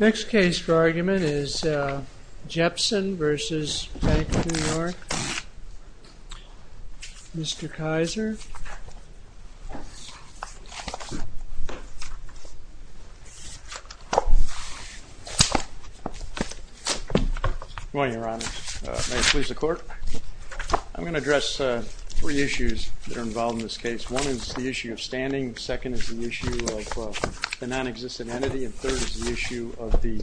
Next case for argument is Jepson v. Bank of New York. Mr. Kizer. Good morning, Your Honor. May it please the Court? I'm going to address three issues that are involved in this case. One is the issue of standing, second is the issue of a nonexistent entity, and third is the issue of the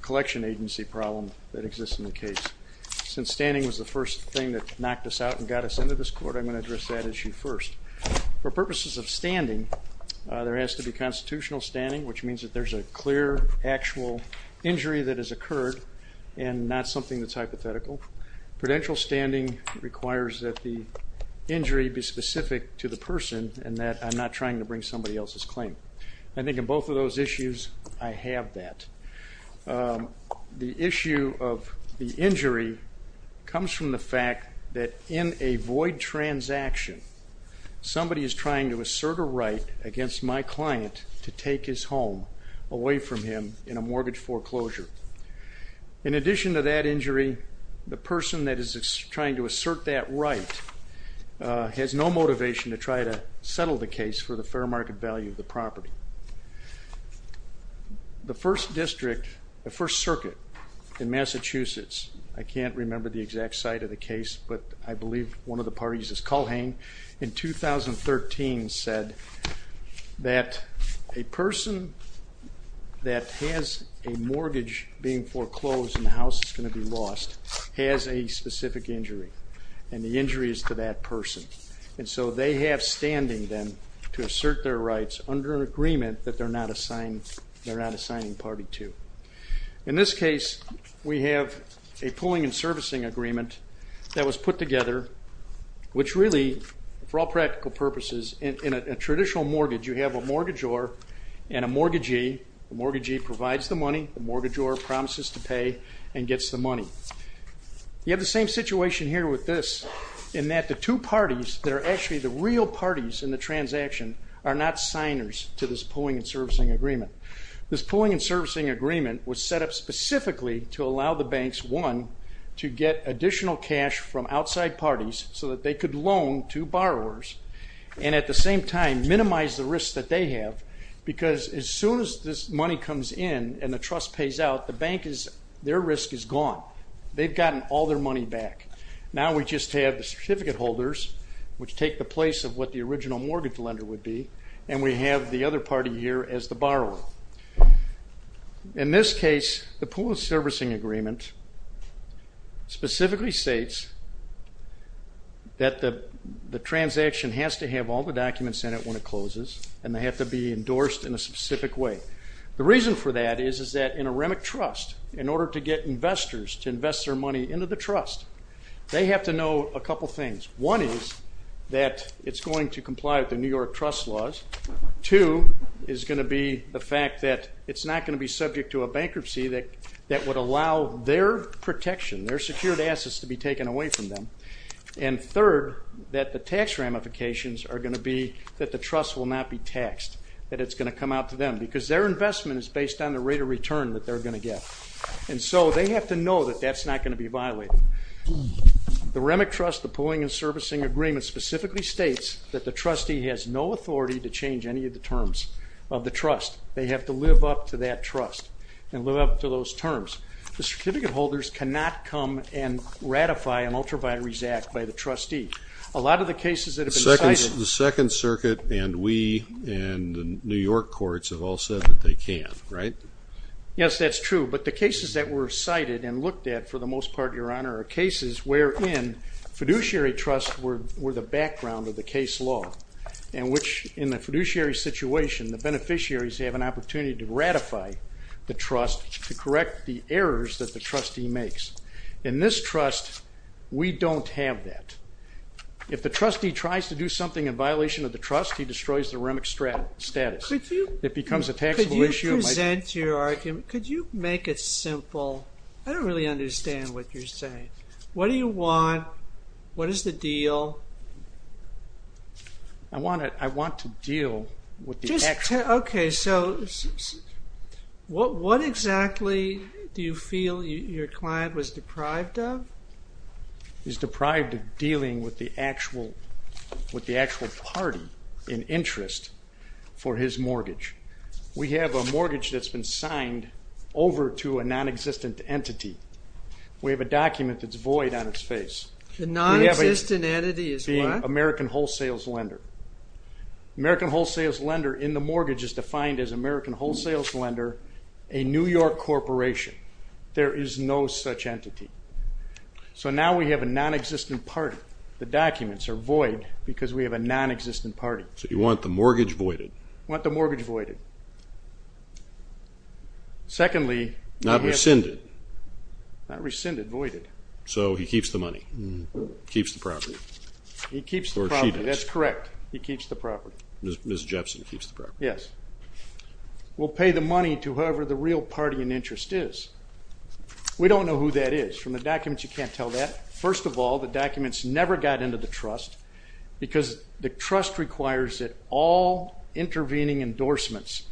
collection agency problem that exists in the case. Since standing was the first thing that knocked us out and got us into this court, I'm going to address that issue first. For purposes of standing, there has to be constitutional standing, which means that there's a clear, actual injury that has occurred and not something that's hypothetical. Prudential standing requires that the injury be specific to the person and that I'm not trying to bring somebody else's claim. I think in both of those issues, I have that. The issue of the injury comes from the fact that in a void transaction, somebody is trying to assert a right against my client to take his home away from him in a mortgage foreclosure. In addition to that injury, the person that is trying to assert that right has no motivation to try to settle the case for the fair market value of the property. The First District, the First Circuit in Massachusetts, I can't remember the exact site of the case, but I believe one of the parties is Culhane, in 2013 said that a person that has a mortgage being foreclosed and the house is going to be lost has a specific injury and the injury is to that person. And so they have standing then to assert their rights under an agreement that they're not assigning party to. In this case, we have a pooling and servicing agreement that was put together, which really, for all practical purposes, in a traditional mortgage, you have a mortgagor and a mortgagee. The mortgagee provides the money, the mortgagor promises to pay and gets the money. You have the same situation here with this in that the two parties that are actually the real parties in the transaction are not signers to this pooling and servicing agreement. This pooling and servicing agreement was set up specifically to allow the banks, one, to get additional cash from outside parties so that they could loan to borrowers and at the same time minimize the risk that they have because as soon as this money comes in and the trust pays out, the bank, their risk is gone. They've gotten all their money back. Now we just have the certificate holders, which take the place of what the original mortgage lender would be, and we have the other party here as the borrower. In this case, the pooling and servicing agreement specifically states that the transaction has to have all the documents in it when it closes and they have to be endorsed in a specific way. The reason for that is that in a REMIC trust, in order to get investors to invest their money into the trust, they have to know a couple things. One is that it's going to comply with the New York trust laws. Two is going to be the fact that it's not going to be subject to a bankruptcy that would allow their protection, their secured assets to be taken away from them. And third, that the tax ramifications are going to be that the trust will not be taxed, that it's going to come out to them because their investment is based on the rate of return that they're going to get. And so they have to know that that's not going to be violated. The REMIC trust, the pooling and servicing agreement, specifically states that the trustee has no authority to change any of the terms of the trust. They have to live up to that trust and live up to those terms. The certificate holders cannot come and ratify an ultraviaries act by the trustee. A lot of the cases that have been cited... The Second Circuit and we and the New York courts have all said that they can, right? Yes, that's true. But the cases that were cited and looked at for the most part, Your Honor, are cases wherein fiduciary trusts were the background of the case law. And which in the fiduciary situation, the beneficiaries have an opportunity to ratify the trust to correct the errors that the trustee makes. In this trust, we don't have that. If the trustee tries to do something in violation of the trust, he destroys the REMIC status. It becomes a taxable issue. Could you present your argument? Could you make it simple? I don't really understand what you're saying. What do you want? What is the deal? I want to deal with the actual... Okay, so what exactly do you feel your client was deprived of? He's deprived of dealing with the actual party in interest for his mortgage. We have a mortgage that's been signed over to a non-existent entity. We have a document that's void on its face. A non-existent entity is what? American Wholesales Lender. American Wholesales Lender in the mortgage is defined as American Wholesales Lender, a New York corporation. There is no such entity. So now we have a non-existent party. The documents are void because we have a non-existent party. So you want the mortgage voided. I want the mortgage voided. Secondly... Not rescinded. Not rescinded, voided. So he keeps the money. He keeps the property. He keeps the property, that's correct. He keeps the property. Ms. Jepson keeps the property. Yes. We'll pay the money to whoever the real party in interest is. We don't know who that is. From the documents, you can't tell that. First of all, the documents never got into the trust because the trust requires that all intervening endorsements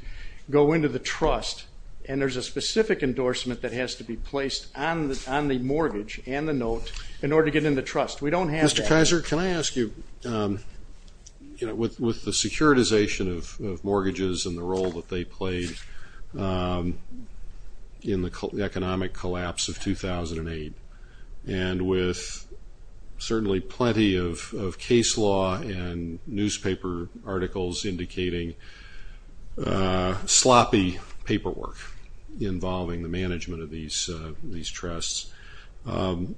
go into the trust. And there's a specific endorsement that has to be placed on the mortgage and the note in order to get in the trust. We don't have that. Mr. Kaiser, can I ask you, you know, with the securitization of mortgages and the role that they played in the economic collapse of 2008, and with certainly plenty of case law and newspaper articles indicating sloppy paperwork involving the management of these trusts, can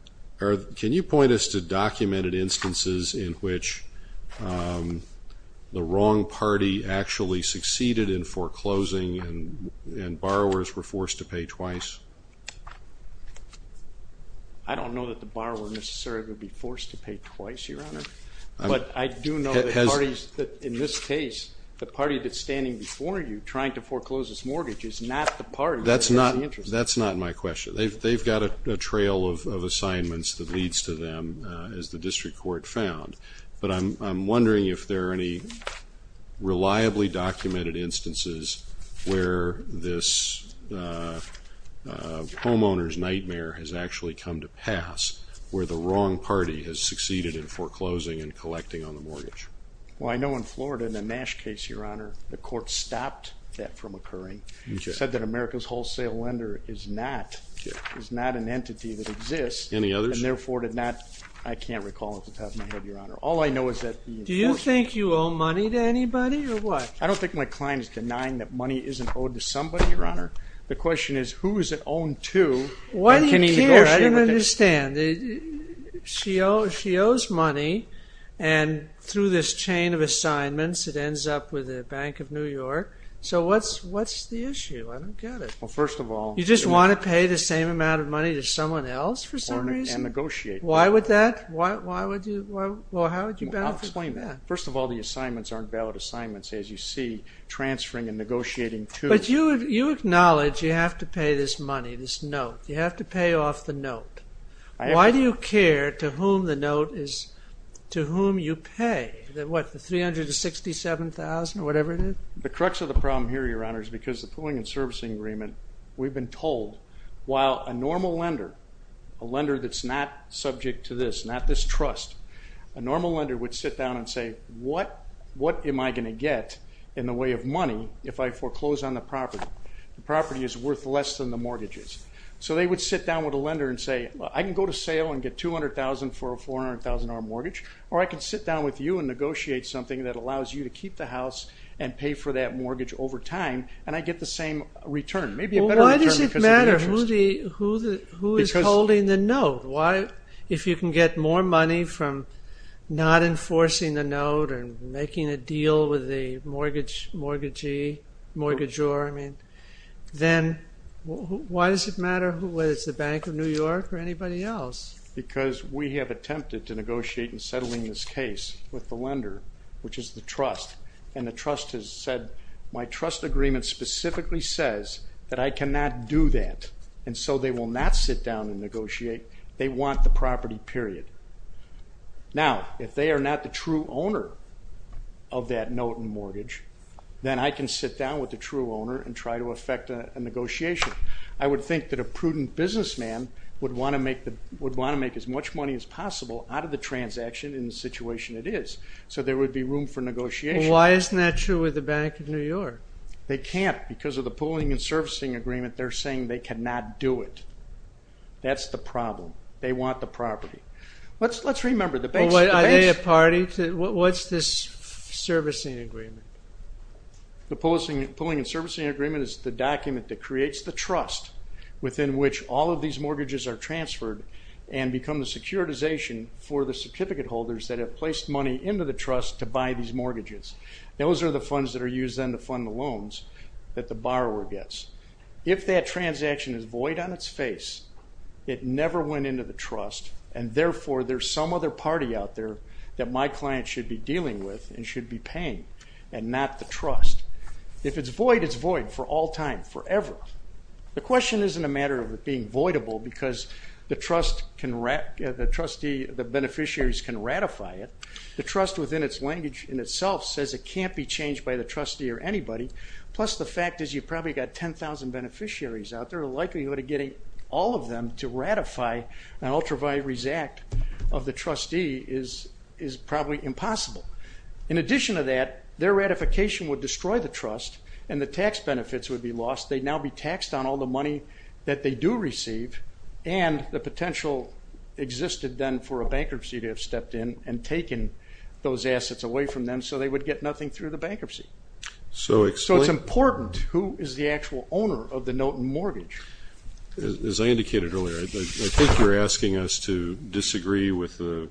you point us to documented instances in which the wrong party actually succeeded in foreclosing and borrowers were forced to pay twice? I don't know that the borrower necessarily would be forced to pay twice, Your Honor. But I do know that parties, in this case, the party that's standing before you trying to foreclose its mortgage is not the party. That's not my question. They've got a trail of assignments that leads to them, as the district court found. But I'm wondering if there are any reliably documented instances where this homeowner's nightmare has actually come to pass, where the wrong party has succeeded in foreclosing and collecting on the mortgage. Well, I know in Florida in the Nash case, Your Honor, the court stopped that from occurring. It said that America's wholesale lender is not an entity that exists. Any others? I can't recall off the top of my head, Your Honor. Do you think you owe money to anybody, or what? I don't think my client is denying that money isn't owed to somebody, Your Honor. The question is, who is it owned to? What do you care? I don't understand. She owes money, and through this chain of assignments, it ends up with the Bank of New York. So what's the issue? I don't get it. You just want to pay the same amount of money to someone else for some reason? And negotiate. Why would that? I'll explain that. First of all, the assignments aren't valid assignments, as you see, transferring and negotiating. But you acknowledge you have to pay this money, this note. You have to pay off the note. Why do you care to whom the note is to whom you pay? What, the $367,000 or whatever it is? The crux of the problem here, Your Honor, is because the pooling and servicing agreement, we've been told while a normal lender, a lender that's not subject to this, not this trust, a normal lender would sit down and say, what am I going to get in the way of money if I foreclose on the property? The property is worth less than the mortgage is. So they would sit down with a lender and say, I can go to sale and get $200,000 for a $400,000 mortgage, or I can sit down with you and negotiate something that allows you to keep the house and pay for that mortgage over time and I get the same return, maybe a better return because of the interest. Well, why does it matter who is holding the note? If you can get more money from not enforcing the note or making a deal with the mortgagee, mortgagor, I mean, then why does it matter whether it's the Bank of New York or anybody else? Because we have attempted to negotiate in settling this case with the lender, which is the trust, and the trust has said, my trust agreement specifically says that I cannot do that, and so they will not sit down and negotiate. They want the property, period. Now, if they are not the true owner of that note and mortgage, then I can sit down with the true owner and try to effect a negotiation. I would think that a prudent businessman would want to make as much money as possible out of the transaction in the situation it is, so there would be room for negotiation. Why isn't that true with the Bank of New York? They can't. Because of the pooling and servicing agreement, they're saying they cannot do it. That's the problem. They want the property. Let's remember the base. Are they a party? What's this servicing agreement? The pooling and servicing agreement is the document that creates the trust within which all of these mortgages are transferred and become the securitization for the certificate holders that have placed money into the trust to buy these mortgages. Those are the funds that are used then to fund the loans that the borrower gets. If that transaction is void on its face, it never went into the trust, and therefore there's some other party out there that my client should be dealing with and should be paying and not the trust. If it's void, it's void for all time, forever. The question isn't a matter of it being voidable because the beneficiaries can ratify it. The trust within its language in itself says it can't be changed by the trustee or anybody, plus the fact is you've probably got 10,000 beneficiaries out there. The likelihood of getting all of them to ratify an ultra-valuaries act of the trustee is probably impossible. In addition to that, their ratification would destroy the trust and the tax benefits would be lost. They'd now be taxed on all the money that they do receive, and the potential existed then for a bankruptcy to have stepped in and taken those assets away from them so they would get nothing through the bankruptcy. So it's important. Who is the actual owner of the Knowton mortgage? As I indicated earlier, I think you're asking us to disagree with the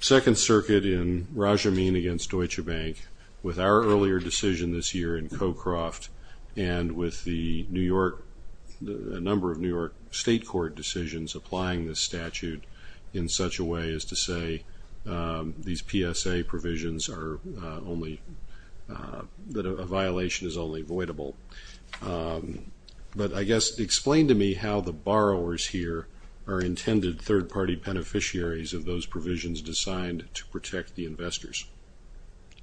Second Circuit in Raj Amin against Deutsche Bank with our earlier decision this year in CoCroft and with a number of New York state court decisions applying this statute in such a way as to say these PSA provisions are only that a violation is only avoidable. But I guess explain to me how the borrowers here are intended third-party beneficiaries of those provisions designed to protect the investors.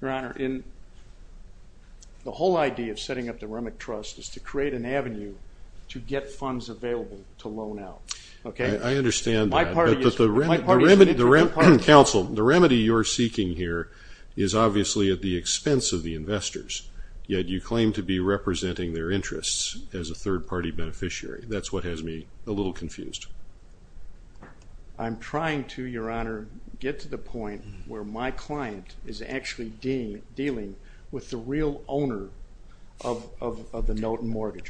Your Honor, the whole idea of setting up the Remick Trust is to create an avenue to get funds available to loan out. I understand that. Counsel, the remedy you're seeking here is obviously at the expense of the investors, yet you claim to be representing their interests as a third-party beneficiary. That's what has me a little confused. I'm trying to, Your Honor, get to the point where my client is actually dealing with the real owner of the Knowton mortgage.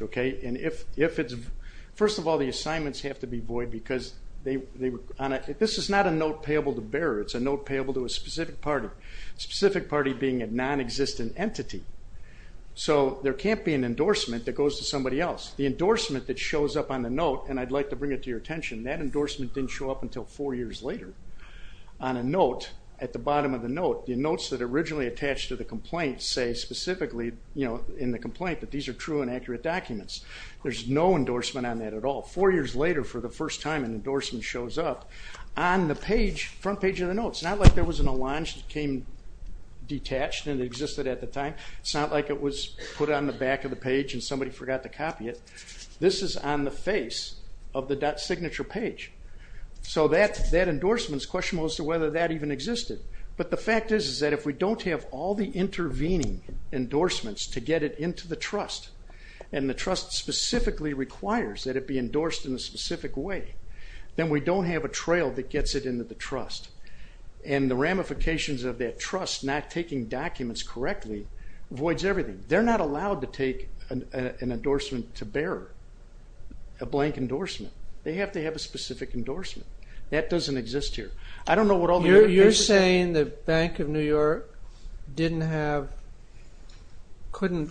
First of all, the assignments have to be void because this is not a note payable to bearer. It's a note payable to a specific party, a specific party being a non-existent entity. So there can't be an endorsement that goes to somebody else. The endorsement that shows up on the note, and I'd like to bring it to your attention, that endorsement didn't show up until four years later on a note at the bottom of the note. The notes that are originally attached to the complaint say specifically in the complaint that these are true and accurate documents. There's no endorsement on that at all. Four years later, for the first time, an endorsement shows up on the front page of the note. It's not like there was an allonge that came detached and existed at the time. It's not like it was put on the back of the page and somebody forgot to copy it. This is on the face of the signature page. So that endorsement's question was to whether that even existed. But the fact is that if we don't have all the intervening endorsements to get it into the trust and the trust specifically requires that it be endorsed in a specific way, then we don't have a trail that gets it into the trust. And the ramifications of that trust not taking documents correctly voids everything. They're not allowed to take an endorsement to bearer, a blank endorsement. They have to have a specific endorsement. That doesn't exist here. You're saying the Bank of New York couldn't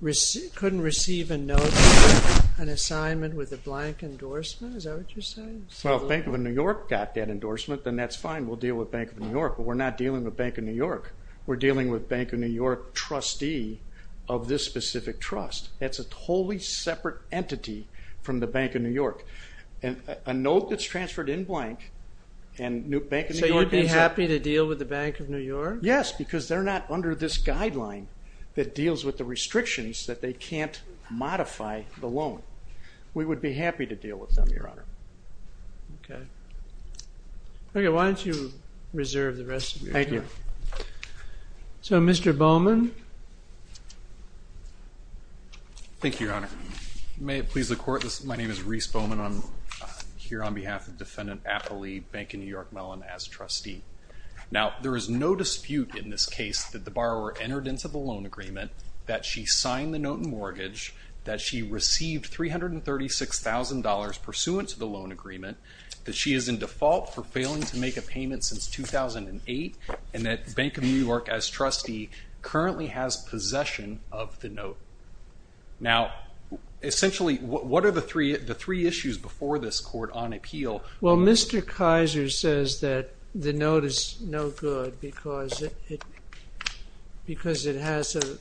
receive a note, an assignment with a blank endorsement? Is that what you're saying? Well, if Bank of New York got that endorsement, then that's fine. We'll deal with Bank of New York. But we're not dealing with Bank of New York. We're dealing with Bank of New York trustee of this specific trust. That's a totally separate entity from the Bank of New York. And a note that's transferred in blank and Bank of New York… So you would be happy to deal with the Bank of New York? Yes, because they're not under this guideline that deals with the restrictions that they can't modify the loan. We would be happy to deal with them, Your Honor. Okay. Okay, why don't you reserve the rest of your time. Thank you. So, Mr. Bowman? Thank you, Your Honor. May it please the Court, my name is Rhys Bowman. I'm here on behalf of Defendant Appley, Bank of New York Mellon, as trustee. Now, there is no dispute in this case that the borrower entered into the loan agreement, that she signed the note in mortgage, that she received $336,000 pursuant to the loan agreement, that she is in default for failing to make a payment since 2008, and that Bank of New York, as trustee, currently has possession of the note. Now, essentially, what are the three issues before this court on appeal? Well, Mr. Kaiser says that the note is no good because it has a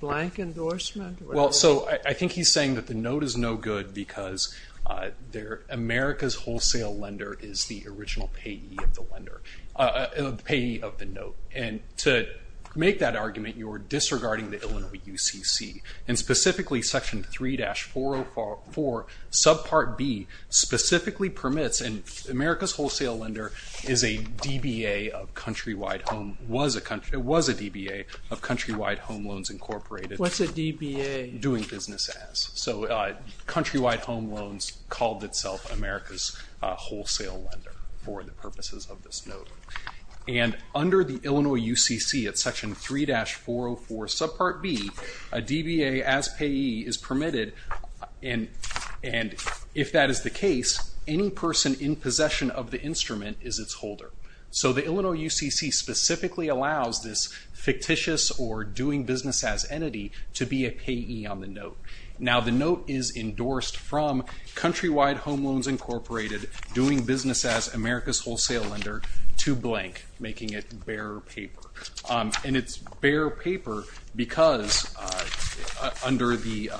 blank endorsement. Well, so I think he's saying that the note is no good because America's wholesale lender is the original payee of the note. And to make that argument, you're disregarding the Illinois UCC, and specifically Section 3-404, Subpart B, specifically permits, and America's wholesale lender is a DBA of Countrywide Home Loans Incorporated. What's a DBA? Doing Business As. So, Countrywide Home Loans called itself America's wholesale lender for the purposes of this note. And under the Illinois UCC at Section 3-404, Subpart B, a DBA as payee is permitted, and if that is the case, any person in possession of the instrument is its holder. So, the Illinois UCC specifically allows this fictitious or doing business as entity to be a payee on the note. Now, the note is endorsed from Countrywide Home Loans Incorporated, doing business as America's wholesale lender, to blank, making it bare paper. And it's bare paper because under the,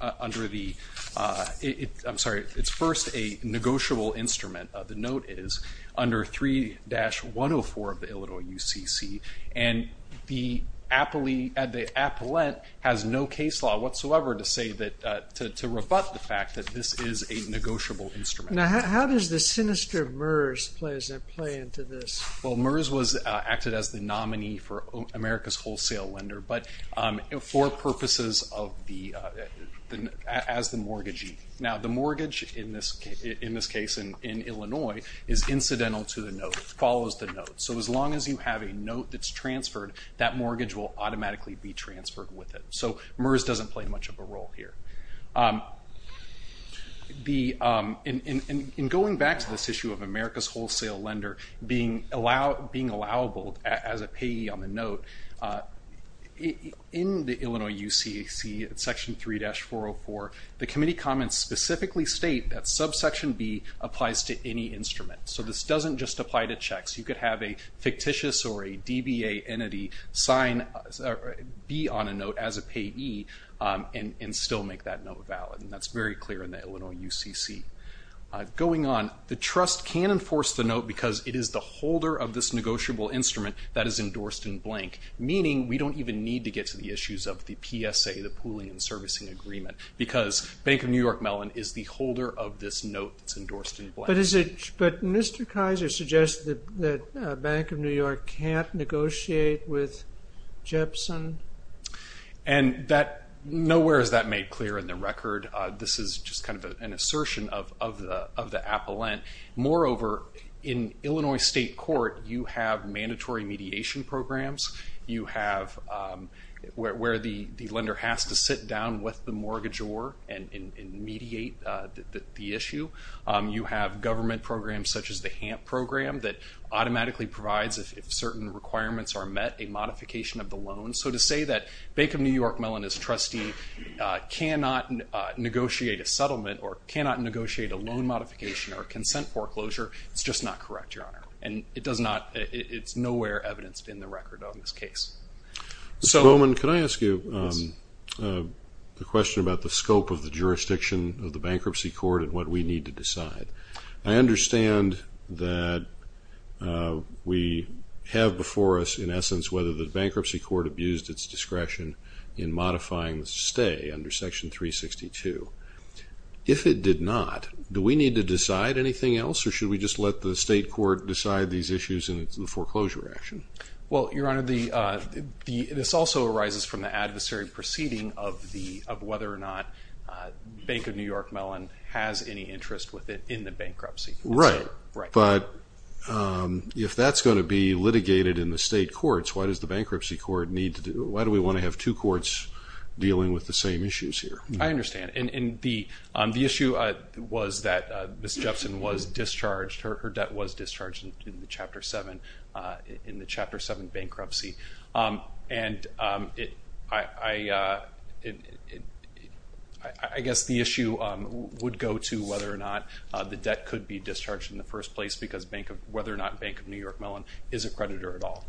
I'm sorry, it's first a negotiable instrument. The note is under 3-104 of the Illinois UCC, and the appellate has no case law whatsoever to say that, to rebut the fact that this is a negotiable instrument. Now, how does the sinister MERS play into this? Well, MERS was acted as the nominee for America's wholesale lender, but for purposes of the, as the mortgagee. Now, the mortgage in this case, in Illinois, is incidental to the note, follows the note. So, as long as you have a note that's transferred, that mortgage will automatically be transferred with it. So, MERS doesn't play much of a role here. In going back to this issue of America's wholesale lender being allowable as a payee on the note, in the Illinois UCC, section 3-404, the committee comments specifically state that subsection B applies to any instrument. So, this doesn't just apply to checks. You could have a fictitious or a DBA entity sign B on a note as a payee and still make that note valid, and that's very clear in the Illinois UCC. Going on, the trust can enforce the note because it is the holder of this negotiable instrument that is endorsed in blank, meaning we don't even need to get to the issues of the PSA, the pooling and servicing agreement, because Bank of New York Mellon is the holder of this note that's endorsed in blank. But Mr. Kaiser suggests that Bank of New York can't negotiate with Jepson. And nowhere is that made clear in the record. This is just kind of an assertion of the appellant. Moreover, in Illinois state court, you have mandatory mediation programs. You have where the lender has to sit down with the mortgagor and mediate the issue. You have government programs such as the HAMP program that automatically provides, if certain requirements are met, a modification of the loan. So to say that Bank of New York Mellon is trustee cannot negotiate a settlement or cannot negotiate a loan modification or a consent foreclosure is just not correct, Your Honor. And it's nowhere evidenced in the record on this case. Mr. Bowman, can I ask you a question about the scope of the jurisdiction of the bankruptcy court and what we need to decide? I understand that we have before us, in essence, whether the bankruptcy court abused its discretion in modifying the stay under Section 362. If it did not, do we need to decide anything else or should we just let the state court decide these issues in the foreclosure action? Well, Your Honor, this also arises from the adversary proceeding of whether or not Bank of New York Mellon has any interest in the bankruptcy. Right, but if that's going to be litigated in the state courts, why does the bankruptcy court need to do it? Why do we want to have two courts dealing with the same issues here? I understand. And the issue was that Ms. Jepson was discharged. Her debt was discharged in the Chapter 7 bankruptcy. And I guess the issue would go to whether or not the debt could be discharged in the first place because whether or not Bank of New York Mellon is a creditor at all.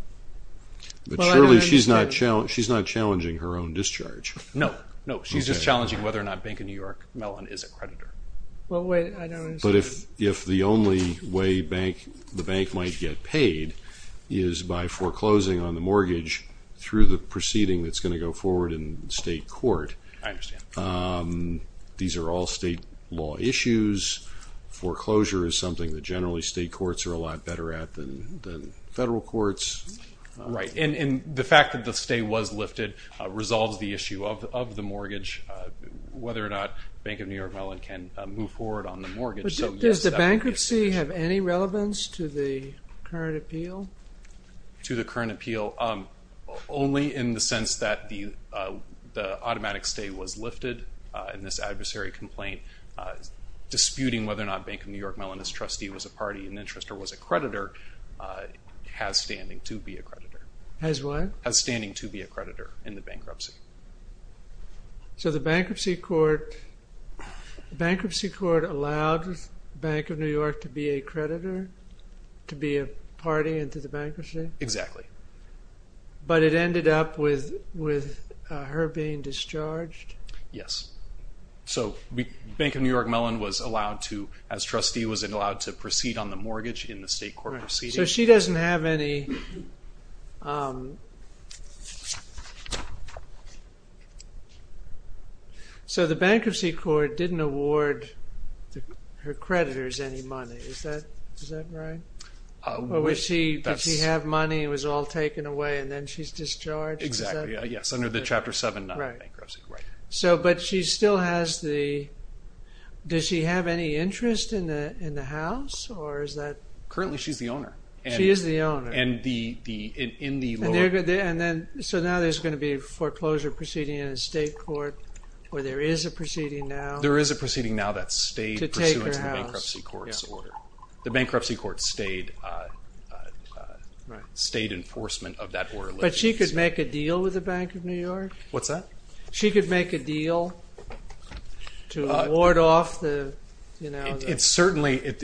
But surely she's not challenging her own discharge. No, no. She's just challenging whether or not Bank of New York Mellon is a creditor. But if the only way the bank might get paid is by foreclosing on the mortgage through the proceeding that's going to go forward in state court. I understand. These are all state law issues. Foreclosure is something that generally state courts are a lot better at than federal courts. Right, and the fact that the stay was lifted resolves the issue of the mortgage, whether or not Bank of New York Mellon can move forward on the mortgage. Does the bankruptcy have any relevance to the current appeal? To the current appeal, only in the sense that the automatic stay was lifted in this adversary complaint. Disputing whether or not Bank of New York Mellon's trustee was a party in interest or was a creditor has standing to be a creditor. Has what? Has standing to be a creditor in the bankruptcy. So the bankruptcy court allowed Bank of New York to be a creditor, to be a party into the bankruptcy? Exactly. But it ended up with her being discharged? Yes. So Bank of New York Mellon was allowed to, as trustee, was allowed to proceed on the mortgage in the state court proceeding. So she doesn't have any. So the bankruptcy court didn't award her creditors any money, is that right? Did she have money and it was all taken away and then she's discharged? Exactly, yes, under the Chapter 7 bankruptcy. But she still has the, does she have any interest in the house or is that? Currently she's the owner. She is the owner. And in the lower. So now there's going to be a foreclosure proceeding in a state court where there is a proceeding now? There is a proceeding now that stayed pursuant to the bankruptcy court's order. The bankruptcy court stayed enforcement of that order. But she could make a deal with the Bank of New York? What's that? She could make a deal to award off the foreclosure? It's certainly in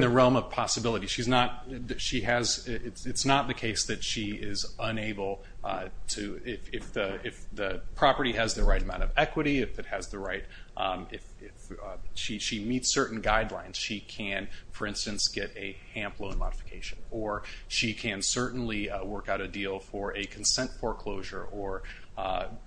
the realm of possibility. She's not, she has, it's not the case that she is unable to, if the property has the right amount of equity, if it has the right, if she meets certain guidelines, she can, for instance, get a HAMP loan modification. Or she can certainly work out a deal for a consent foreclosure or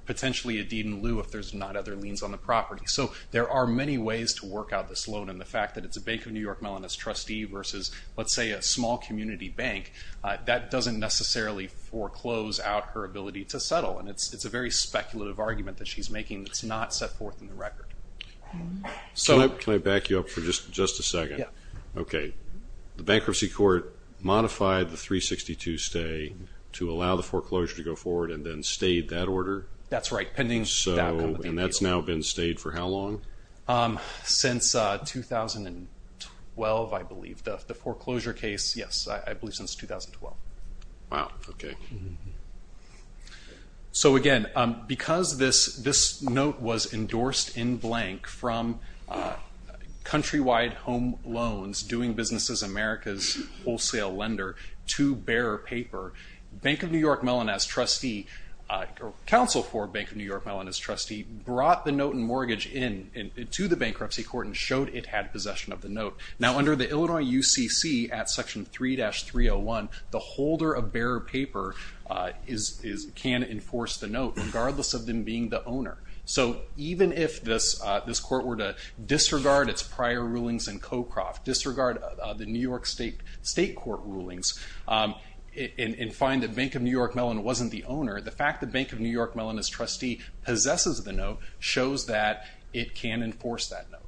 potentially a deed in lieu if there's not other liens on the property. So there are many ways to work out this loan. And the fact that it's a Bank of New York Mellonist trustee versus, let's say, a small community bank, that doesn't necessarily foreclose out her ability to settle. And it's a very speculative argument that she's making. It's not set forth in the record. Can I back you up for just a second? Yeah. Okay. The bankruptcy court modified the 362 stay to allow the foreclosure to go forward and then stayed that order? That's right. And that's now been stayed for how long? Since 2012, I believe. The foreclosure case, yes, I believe since 2012. Wow. Okay. So, again, because this note was endorsed in blank from Countrywide Home Loans, Doing Business as America's Wholesale Lender, two-bearer paper, Bank of New York Mellonist trustee, or counsel for Bank of New York Mellonist trustee, brought the note and mortgage in to the bankruptcy court and showed it had possession of the note. Now, under the Illinois UCC at Section 3-301, the holder of bearer paper can enforce the note, regardless of them being the owner. So even if this court were to disregard its prior rulings in CoCroft, disregard the New York State court rulings, and find that Bank of New York Mellon wasn't the owner, the fact that Bank of New York Mellonist trustee possesses the note shows that it can enforce that note.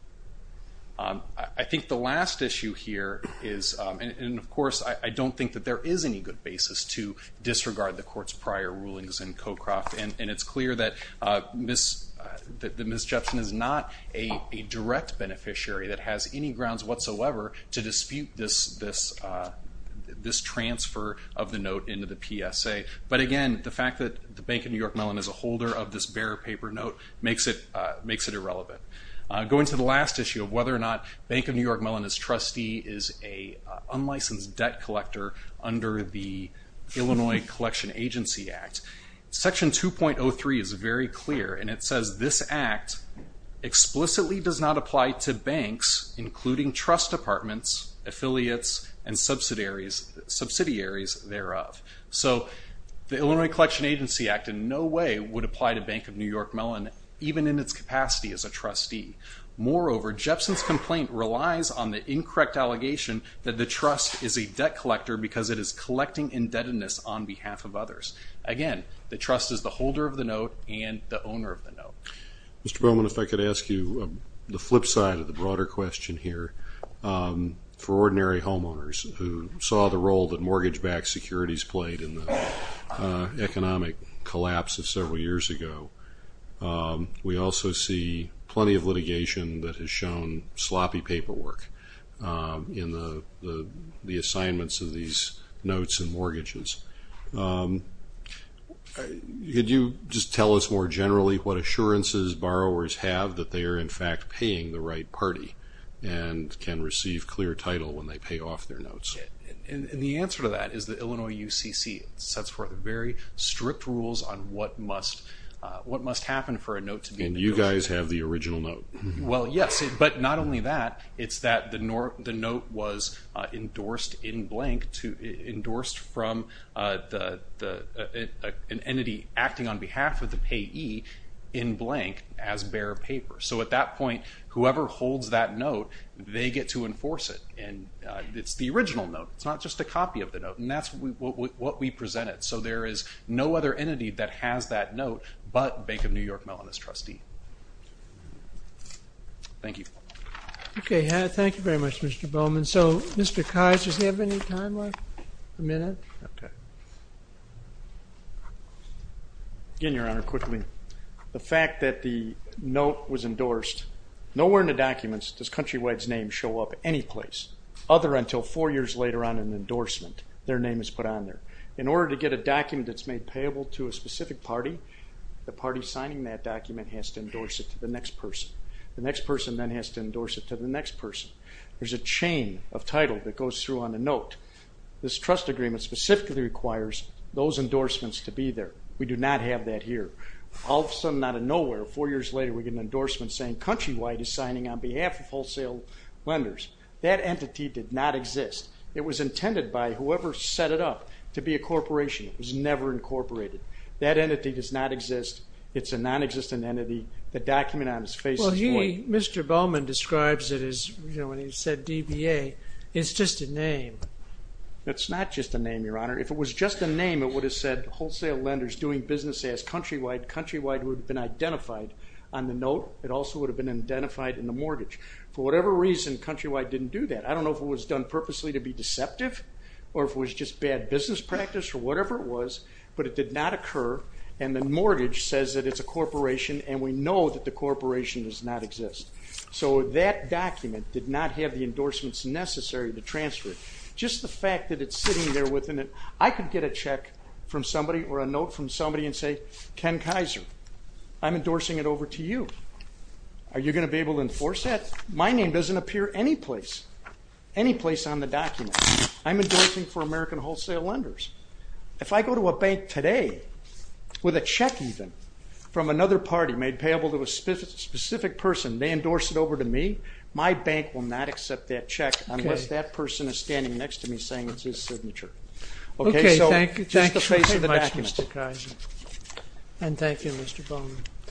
I think the last issue here is, and, of course, I don't think that there is any good basis to disregard the court's prior rulings in CoCroft, and it's clear that Ms. Jepson is not a direct beneficiary that has any grounds whatsoever to dispute this transfer of the note into the PSA. But, again, the fact that the Bank of New York Mellon is a holder of this bearer paper note makes it irrelevant. Going to the last issue of whether or not Bank of New York Mellonist trustee is an unlicensed debt collector under the Illinois Collection Agency Act, Section 2.03 is very clear, and it says, this act explicitly does not apply to banks, including trust departments, affiliates, and subsidiaries thereof. So the Illinois Collection Agency Act in no way would apply to Bank of New York Mellon, even in its capacity as a trustee. Moreover, Jepson's complaint relies on the incorrect allegation that the trust is a debt collector because it is collecting indebtedness on behalf of others. Again, the trust is the holder of the note and the owner of the note. Mr. Bowman, if I could ask you the flip side of the broader question here, for ordinary homeowners who saw the role that mortgage-backed securities played in the economic collapse of several years ago, we also see plenty of litigation that has shown sloppy paperwork in the assignments of these notes and mortgages. Could you just tell us more generally what assurances borrowers have that they are, in fact, paying the right party and can receive clear title when they pay off their notes? The answer to that is the Illinois UCC sets forth very strict rules on what must happen for a note to be endorsed. And you guys have the original note. Well, yes, but not only that. It's that the note was endorsed in blank, endorsed from an entity acting on behalf of the payee in blank as bare paper. So at that point, whoever holds that note, they get to enforce it, and it's the original note. It's not just a copy of the note, and that's what we presented. So there is no other entity that has that note but Bank of New York Mellon as trustee. Thank you. Okay. Thank you very much, Mr. Bowman. So, Mr. Keyes, does he have any time left? A minute? Okay. Again, Your Honor, quickly, the fact that the note was endorsed, nowhere in the documents does Countrywide's name show up any place other until four years later on in an endorsement their name is put on there. In order to get a document that's made payable to a specific party, the party signing that document has to endorse it to the next person. The next person then has to endorse it to the next person. There's a chain of title that goes through on the note. This trust agreement specifically requires those endorsements to be there. We do not have that here. All of a sudden, out of nowhere, four years later, we get an endorsement saying Countrywide is signing on behalf of wholesale lenders. That entity did not exist. It was intended by whoever set it up to be a corporation. It was never incorporated. That entity does not exist. It's a nonexistent entity. The document on its face is void. Well, he, Mr. Bowman, describes it as, you know, when he said DBA, it's just a name. It's not just a name, Your Honor. If it was just a name, it would have said wholesale lenders doing business as Countrywide. It would have said Countrywide would have been identified on the note. It also would have been identified in the mortgage. For whatever reason, Countrywide didn't do that. I don't know if it was done purposely to be deceptive or if it was just bad business practice or whatever it was, but it did not occur, and the mortgage says that it's a corporation, and we know that the corporation does not exist. So that document did not have the endorsements necessary to transfer it. Just the fact that it's sitting there within it, I could get a check from somebody or a note from somebody and say, Ken Kaiser, I'm endorsing it over to you. Are you going to be able to enforce that? My name doesn't appear any place, any place on the document. I'm endorsing for American wholesale lenders. If I go to a bank today with a check even from another party made payable to a specific person, they endorse it over to me, my bank will not accept that check unless that person is standing next to me Okay, thank you. Thank you so much, Mr. Kaiser. And thank you, Mr. Bowman.